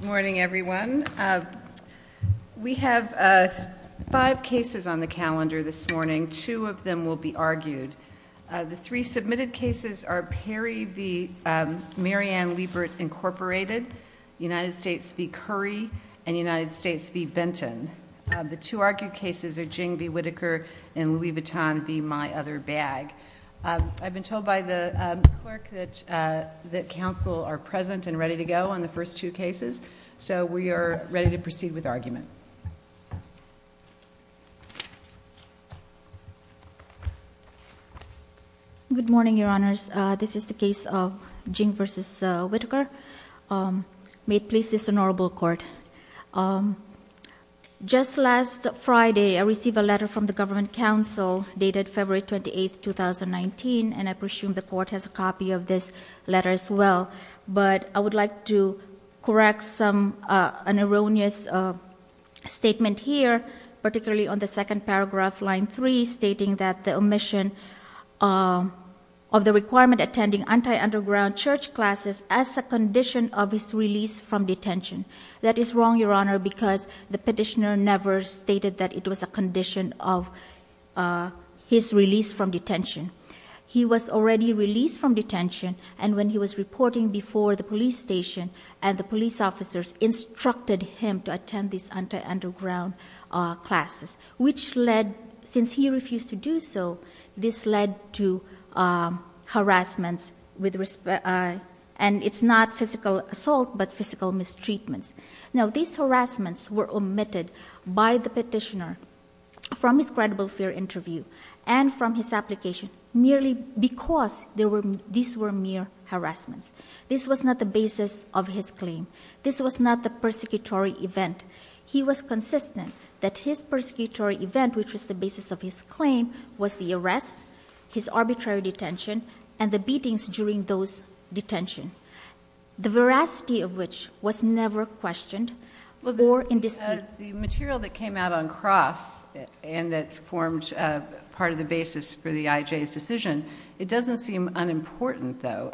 Good morning, everyone. We have five cases on the calendar this morning. Two of them will be argued. The three submitted cases are Perry v. Mary Ann Liebert Incorporated, United States v. Curry, and United States v. Benton. The two argued cases are Jing v. Whitaker and Louis Vuitton v. My Other Bag. I've been told by the clerk that counsel are present and ready to go on the first two cases, so we are ready to proceed with argument. Good morning, Your Honors. This is the case of Jing v. Whitaker. May it please this honorable court. Just last Friday, I received a letter from the government counsel dated February 28, 2019, and I presume the court has a copy of this letter as well. But I would like to correct an erroneous statement here, particularly on the second paragraph, line three, stating that the omission of the requirement attending anti-underground church classes as a condition of his release from detention. That is wrong, Your Honor, because the petitioner never stated that it was a condition of his release from detention. He was already released from detention, and when he was reporting before the police station and the police officers instructed him to attend these anti-underground classes, which led, since he refused to do so, this led to harassment, and it's not physical assault, but physical mistreatment. Now, these harassments were omitted by the petitioner from his credible fear interview and from his application merely because these were mere harassments. This was not the basis of his claim. This was not the persecutory event. He was consistent that his persecutory event, which was the basis of his claim, was the arrest, his arbitrary detention, and the beatings during those detention, the veracity of which was never questioned or in dispute. The material that came out on cross and that formed part of the basis for the IJ's decision, it doesn't seem unimportant, though.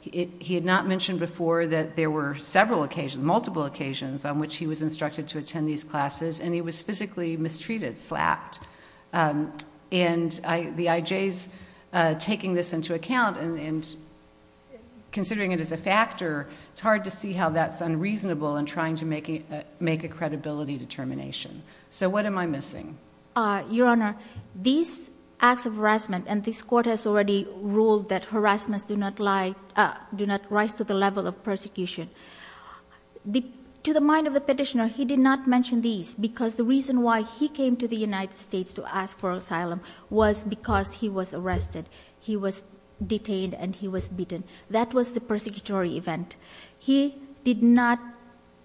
He had not mentioned before that there were several occasions, multiple occasions, on which he was instructed to attend these classes, and he was physically mistreated, slapped. And the IJ's taking this into account and considering it as a factor, it's hard to see how that's unreasonable in trying to make a credibility determination. So what am I missing? Your Honor, these acts of harassment, and this Court has already ruled that harassments do not rise to the level of persecution. To the mind of the petitioner, he did not mention these because the reason why he came to the United States to ask for asylum was because he was arrested, he was detained, and he was beaten. That was the persecutory event. He did not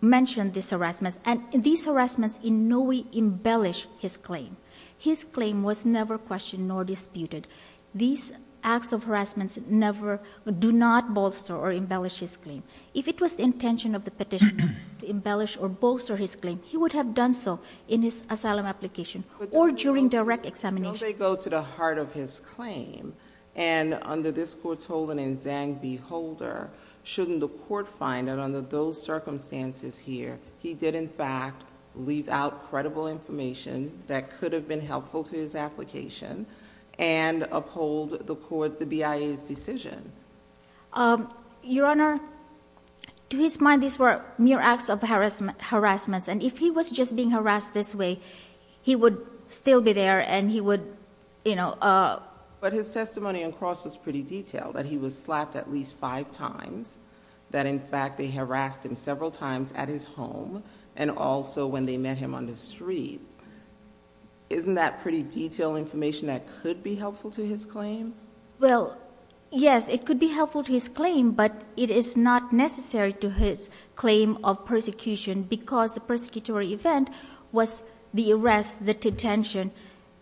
mention these harassments, and these harassments in no way embellish his claim. His claim was never questioned nor disputed. These acts of harassment never do not bolster or embellish his claim. If it was the intention of the petitioner to embellish or bolster his claim, he would have done so in his asylum application or during direct examination. How do they go to the heart of his claim? And under this Court's holding in Zhang v. Holder, shouldn't the Court find that under those circumstances here, he did in fact leave out credible information that could have been helpful to his application and uphold the BIA's decision? Your Honor, to his mind, these were mere acts of harassment. And if he was just being harassed this way, he would still be there, and he would, you know— But his testimony on cross was pretty detailed, that he was slapped at least five times, that in fact they harassed him several times at his home, and also when they met him on the streets. Isn't that pretty detailed information that could be helpful to his claim? Well, yes, it could be helpful to his claim, but it is not necessary to his claim of persecution because the persecutory event was the arrest, the detention,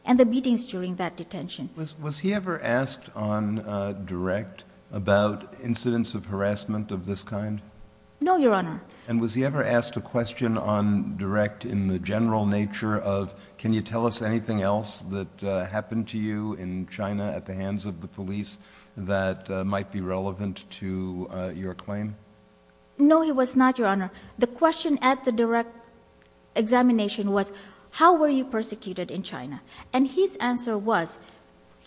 and the meetings during that detention. Was he ever asked on direct about incidents of harassment of this kind? No, Your Honor. And was he ever asked a question on direct in the general nature of, can you tell us anything else that happened to you in China at the hands of the police that might be relevant to your claim? No, he was not, Your Honor. The question at the direct examination was, how were you persecuted in China? And his answer was,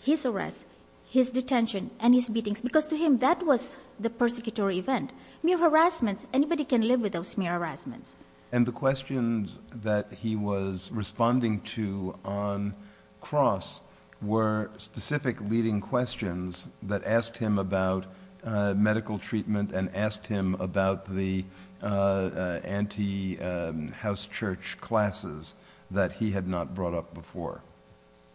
his arrest, his detention, and his meetings. Because to him, that was the persecutory event. Mere harassment, anybody can live with those mere harassment. And the questions that he was responding to on cross were specific leading questions that asked him about medical treatment and asked him about the anti-house church classes that he had not brought up before.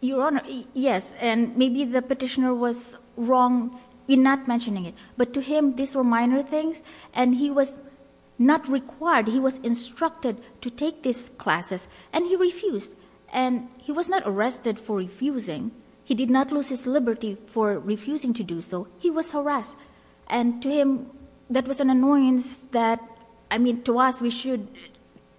Your Honor, yes, and maybe the petitioner was wrong in not mentioning it. But to him, these were minor things, and he was not required, he was instructed to take these classes, and he refused. And he was not arrested for refusing. He did not lose his liberty for refusing to do so. He was harassed. And to him, that was an annoyance that, I mean, to us, we should,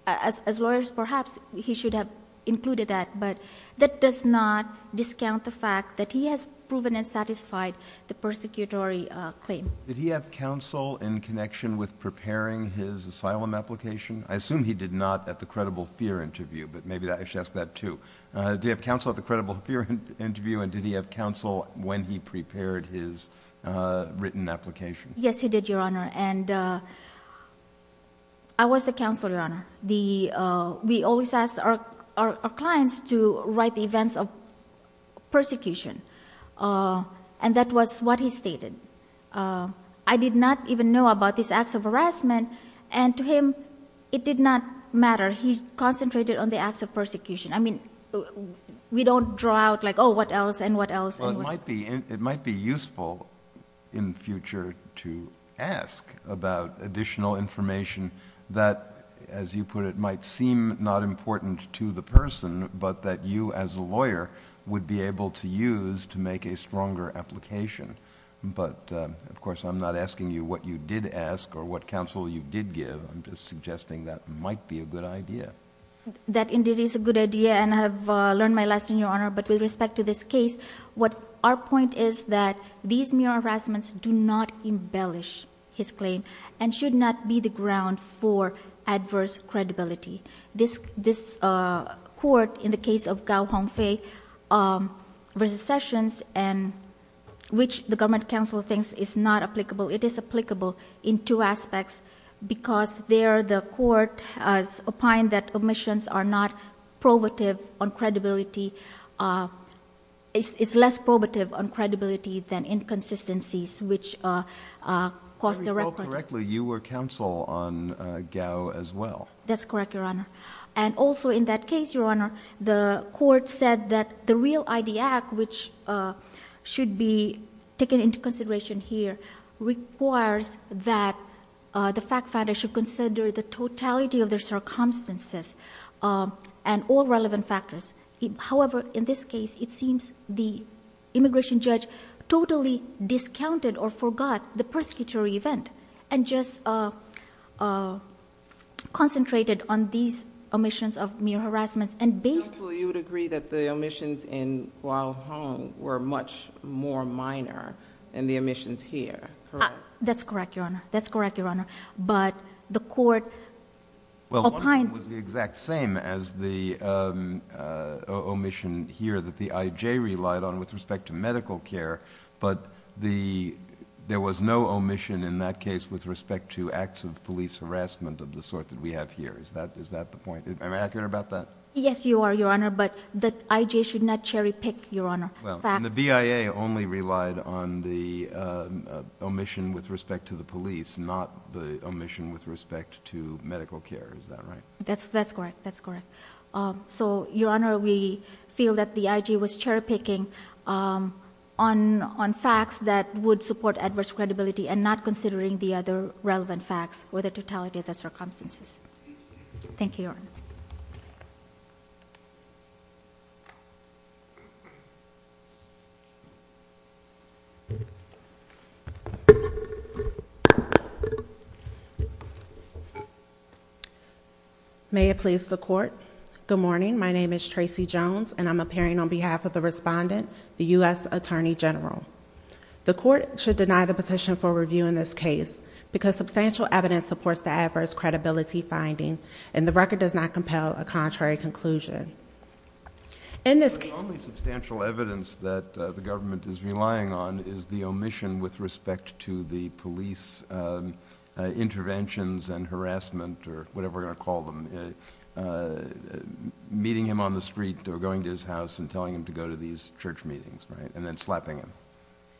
as lawyers perhaps, he should have included that. But that does not discount the fact that he has proven and satisfied the persecutory claim. Did he have counsel in connection with preparing his asylum application? I assume he did not at the credible fear interview, but maybe I should ask that too. Did he have counsel at the credible fear interview, and did he have counsel when he prepared his written application? Yes, he did, Your Honor. And I was the counsel, Your Honor. We always ask our clients to write the events of persecution, and that was what he stated. I did not even know about these acts of harassment, and to him, it did not matter. He concentrated on the acts of persecution. I mean, we don't draw out like, oh, what else and what else. Well, it might be useful in future to ask about additional information that, as you put it, might seem not important to the person, but that you as a lawyer would be able to use to make a stronger application. But, of course, I'm not asking you what you did ask or what counsel you did give. I'm just suggesting that might be a good idea. That indeed is a good idea, and I have learned my lesson, Your Honor. But with respect to this case, our point is that these mere harassments do not embellish his claim and should not be the ground for adverse credibility. This court, in the case of Gao Hongfei v. Sessions, which the government counsel thinks is not applicable, it is applicable in two aspects, because there the court has opined that omissions are not probative on credibility. It's less probative on credibility than inconsistencies, which cause the record. If I recall correctly, you were counsel on Gao as well. That's correct, Your Honor. And also in that case, Your Honor, the court said that the real ID Act, which should be taken into consideration here, requires that the fact finder should consider the totality of their circumstances and all relevant factors. However, in this case, it seems the immigration judge totally discounted or forgot the persecutory event and just concentrated on these omissions of mere harassment and based... Counsel, you would agree that the omissions in Gao Hong were much more minor than the omissions here, correct? That's correct, Your Honor. That's correct, Your Honor. But the court opined...... that the omission here that the I.J. relied on with respect to medical care, but there was no omission in that case with respect to acts of police harassment of the sort that we have here. Is that the point? Am I accurate about that? Yes, you are, Your Honor, but the I.J. should not cherry pick, Your Honor. Well, and the BIA only relied on the omission with respect to the police, not the omission with respect to medical care. Is that right? That's correct. That's correct. So, Your Honor, we feel that the I.J. was cherry picking on facts that would support adverse credibility and not considering the other relevant facts or the totality of the circumstances. May it please the Court. Good morning. My name is Tracy Jones, and I'm appearing on behalf of the Respondent, the U.S. Attorney General. The Court should deny the petition for review in this case because substantial evidence supports the adverse credibility finding, and the record does not compel a contrary conclusion. The only substantial evidence that the government is relying on is the omission with respect to the police interventions and harassment or whatever we're going to call them, meeting him on the street or going to his house and telling him to go to these church meetings, right, and then slapping him.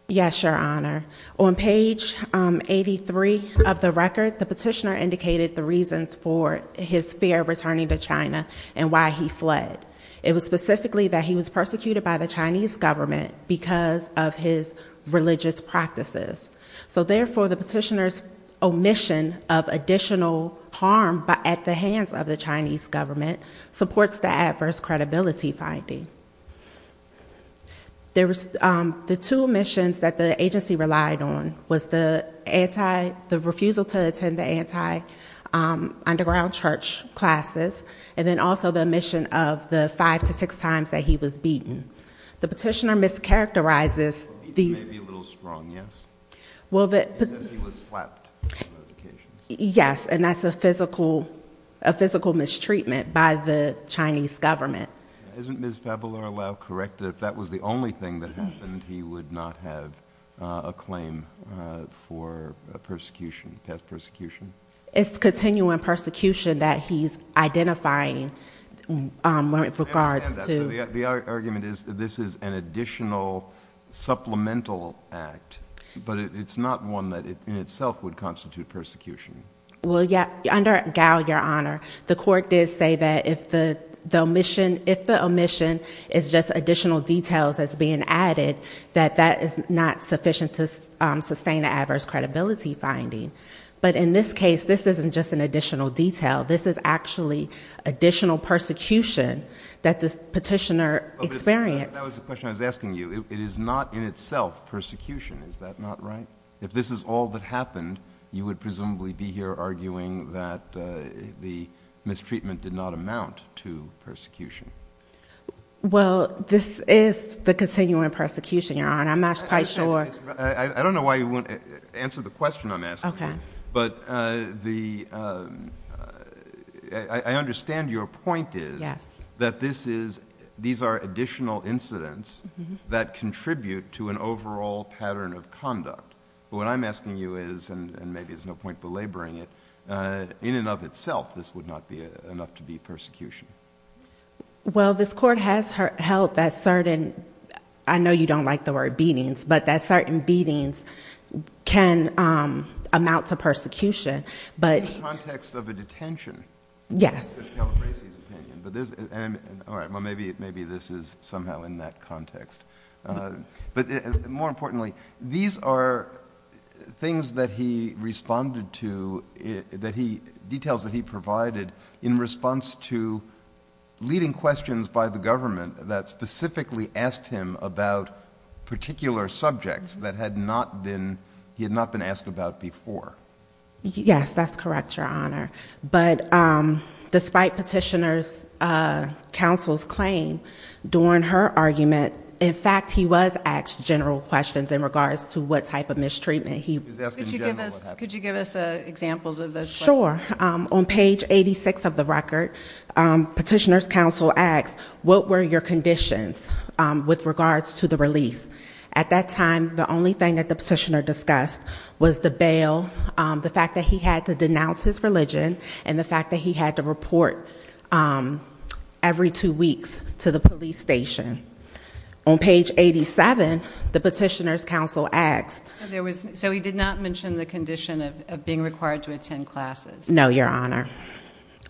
Yes, Your Honor. On page 83 of the record, the petitioner indicated the reasons for his fear of returning to China and why he fled. It was specifically that he was persecuted by the Chinese government because of his religious practices. So, therefore, the petitioner's omission of additional harm at the hands of the Chinese government supports the adverse credibility finding. The two omissions that the agency relied on was the refusal to attend the anti-underground church classes, and then also the omission of the five to six times that he was beaten. The petitioner mischaracterizes these... He may be a little strong, yes? Well, the... He says he was slapped on those occasions. Yes, and that's a physical mistreatment by the Chinese government. Isn't Ms. Fabular-Lau correct that if that was the only thing that happened, he would not have a claim for persecution, past persecution? It's continuing persecution that he's identifying with regards to... I understand that, so the argument is that this is an additional supplemental act, but it's not one that in itself would constitute persecution. Well, under Gao, Your Honor, the court did say that if the omission is just additional details that's being added, that that is not sufficient to sustain the adverse credibility finding. But in this case, this isn't just an additional detail. This is actually additional persecution that this petitioner experienced. That was the question I was asking you. It is not in itself persecution. Is that not right? If this is all that happened, you would presumably be here arguing that the mistreatment did not amount to persecution. Well, this is the continuing persecution, Your Honor. I'm not quite sure... I don't know why you won't answer the question I'm asking you. Okay. But the... I understand your point is... Yes.... that these are additional incidents that contribute to an overall pattern of conduct. What I'm asking you is, and maybe there's no point belaboring it, in and of itself this would not be enough to be persecution. Well, this court has held that certain... I know you don't like the word beatings, but that certain beatings can amount to persecution. In the context of a detention. Yes. That's Calabresi's opinion. All right. Well, maybe this is somehow in that context. But more importantly, these are things that he responded to, details that he provided, in response to leading questions by the government that specifically asked him about particular subjects that he had not been asked about before. Yes, that's correct, Your Honor. But despite Petitioner's counsel's claim, during her argument, in fact he was asked general questions in regards to what type of mistreatment he... Could you give us examples of those questions? Sure. On page 86 of the record, Petitioner's counsel asked, what were your conditions with regards to the release? At that time, the only thing that the Petitioner discussed was the bail, the fact that he had to denounce his religion, and the fact that he had to report every two weeks to the police station. On page 87, the Petitioner's counsel asked... So he did not mention the condition of being required to attend classes? No, Your Honor.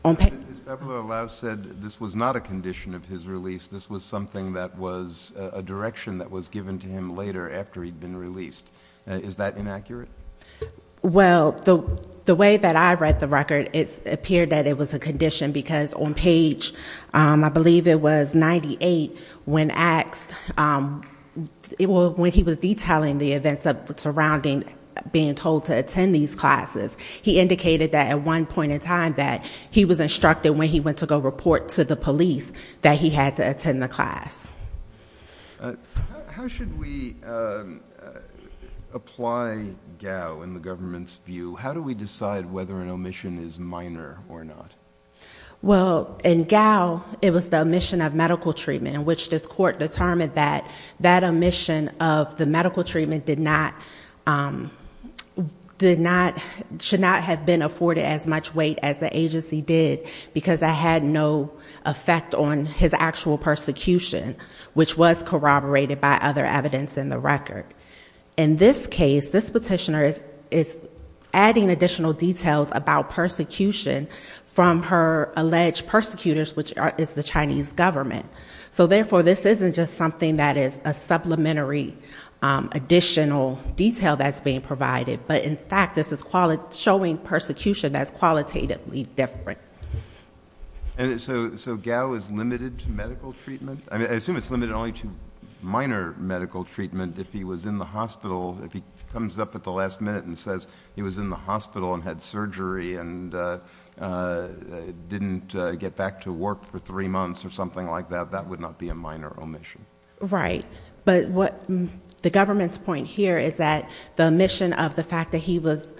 Ms. Babler-Louse said this was not a condition of his release. This was something that was a direction that was given to him later, after he'd been released. Is that inaccurate? Well, the way that I read the record, it appeared that it was a condition, because on page, I believe it was 98, when he was detailing the events surrounding being told to attend these classes, he indicated that at one point in time that he was instructed when he went to go report to the police that he had to attend the class. How should we apply GAO in the government's view? How do we decide whether an omission is minor or not? Well, in GAO, it was the omission of medical treatment, in which this court determined that that omission of the medical treatment should not have been afforded as much weight as the agency did, because it had no effect on his actual persecution, which was corroborated by other evidence in the record. In this case, this Petitioner is adding additional details about persecution from her alleged persecutors, which is the Chinese government. So, therefore, this isn't just something that is a supplementary additional detail that's being provided, but, in fact, this is showing persecution that's qualitatively different. So GAO is limited to medical treatment? I assume it's limited only to minor medical treatment if he was in the hospital, if he comes up at the last minute and says he was in the hospital and had surgery and didn't get back to work for three months or something like that. That would not be a minor omission. Right. But the government's point here is that the omission of the fact that he was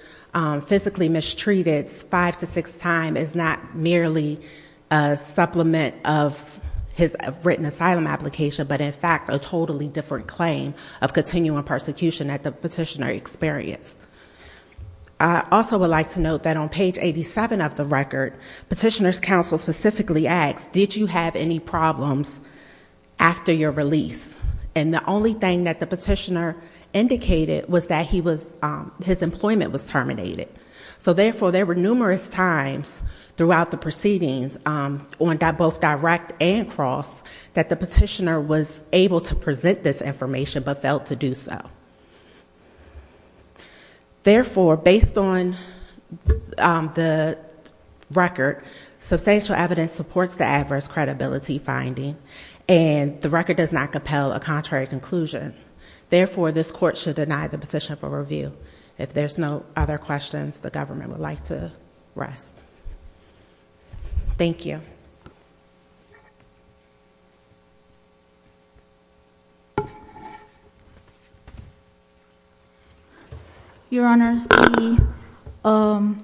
physically mistreated five to six times is not merely a supplement of his written asylum application, but, in fact, a totally different claim of continuing persecution that the Petitioner experienced. I also would like to note that on page 87 of the record, Petitioner's counsel specifically asked, did you have any problems after your release? And the only thing that the Petitioner indicated was that his employment was terminated. So, therefore, there were numerous times throughout the proceedings, both direct and cross, that the Petitioner was able to present this information but failed to do so. Therefore, based on the record, substantial evidence supports the adverse credibility finding, and the record does not compel a contrary conclusion. Therefore, this court should deny the petition for review. If there's no other questions, the government would like to rest. Thank you. Your Honor, the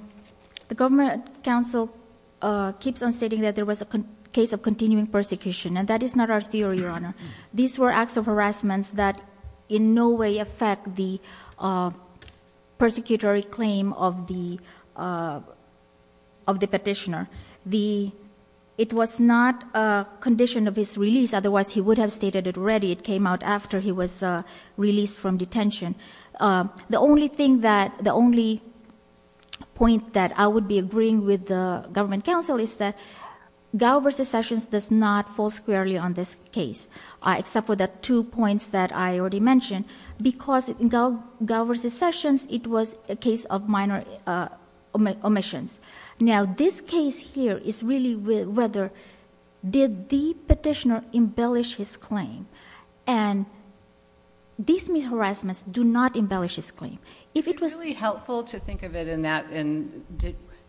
government counsel keeps on stating that there was a case of continuing persecution, and that is not our theory, Your Honor. These were acts of harassment that in no way affect the persecutory claim of the Petitioner. It was not a condition of his release. Otherwise, he would have stated it already. It came out after he was released from detention. The only point that I would be agreeing with the government counsel is that except for the two points that I already mentioned, because in Galbraith v. Sessions, it was a case of minor omissions. Now, this case here is really whether did the Petitioner embellish his claim, and these misharassments do not embellish his claim. If it was... It would be really helpful to think of it in that,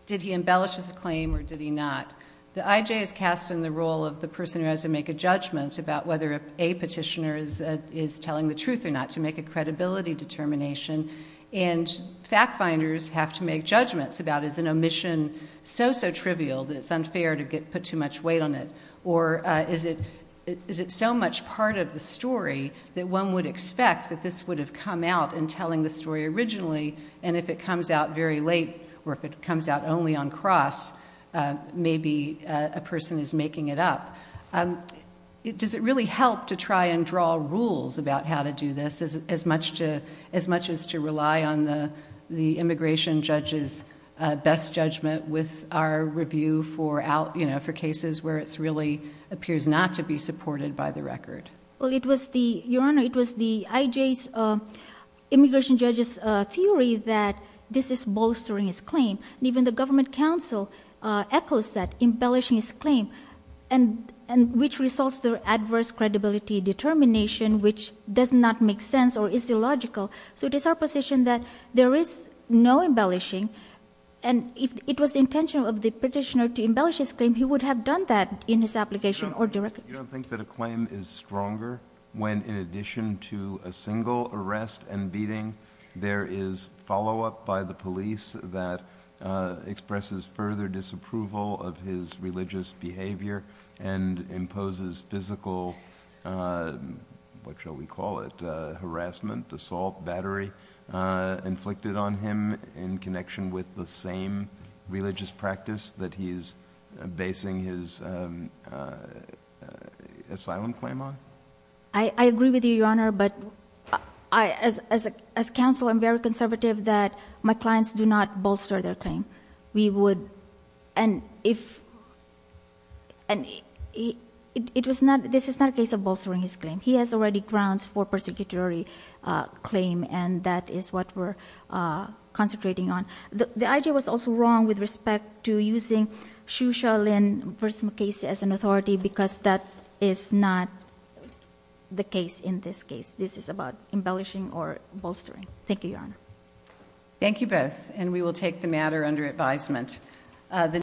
did he embellish his claim or did he not? The I.J. is cast in the role of the person who has to make a judgment about whether a Petitioner is telling the truth or not, to make a credibility determination, and fact finders have to make judgments about is an omission so, so trivial that it's unfair to put too much weight on it, or is it so much part of the story that one would expect that this would have come out in telling the story originally, and if it comes out very late, or if it comes out only on cross, maybe a person is making it up. Does it really help to try and draw rules about how to do this as much as to rely on the immigration judge's best judgment with our review for cases where it really appears not to be supported by the record? Well, it was the, Your Honor, it was the I.J.'s immigration judge's theory that this is bolstering his claim, and even the Government Council echoes that, embellishing his claim, and which results through adverse credibility determination, which does not make sense or is illogical. So it is our position that there is no embellishing, and if it was the intention of the Petitioner to embellish his claim, he would have done that in his application or directly. You don't think that a claim is stronger when, in addition to a single arrest and beating, there is follow-up by the police that expresses further disapproval of his religious behavior and imposes physical, what shall we call it, harassment, assault, battery, inflicted on him in connection with the same religious practice that he is basing his asylum claim on? I agree with you, Your Honor, but I, as counsel, am very conservative that my clients do not bolster their claim. We would, and if, and it was not, this is not a case of bolstering his claim. He has already grounds for persecutory claim, and that is what we're concentrating on. The I.G. was also wrong with respect to using Shu Sha Lin versus McKay as an authority because that is not the case in this case. This is about embellishing or bolstering. Thank you, Your Honor. Thank you both, and we will take the matter under advisement.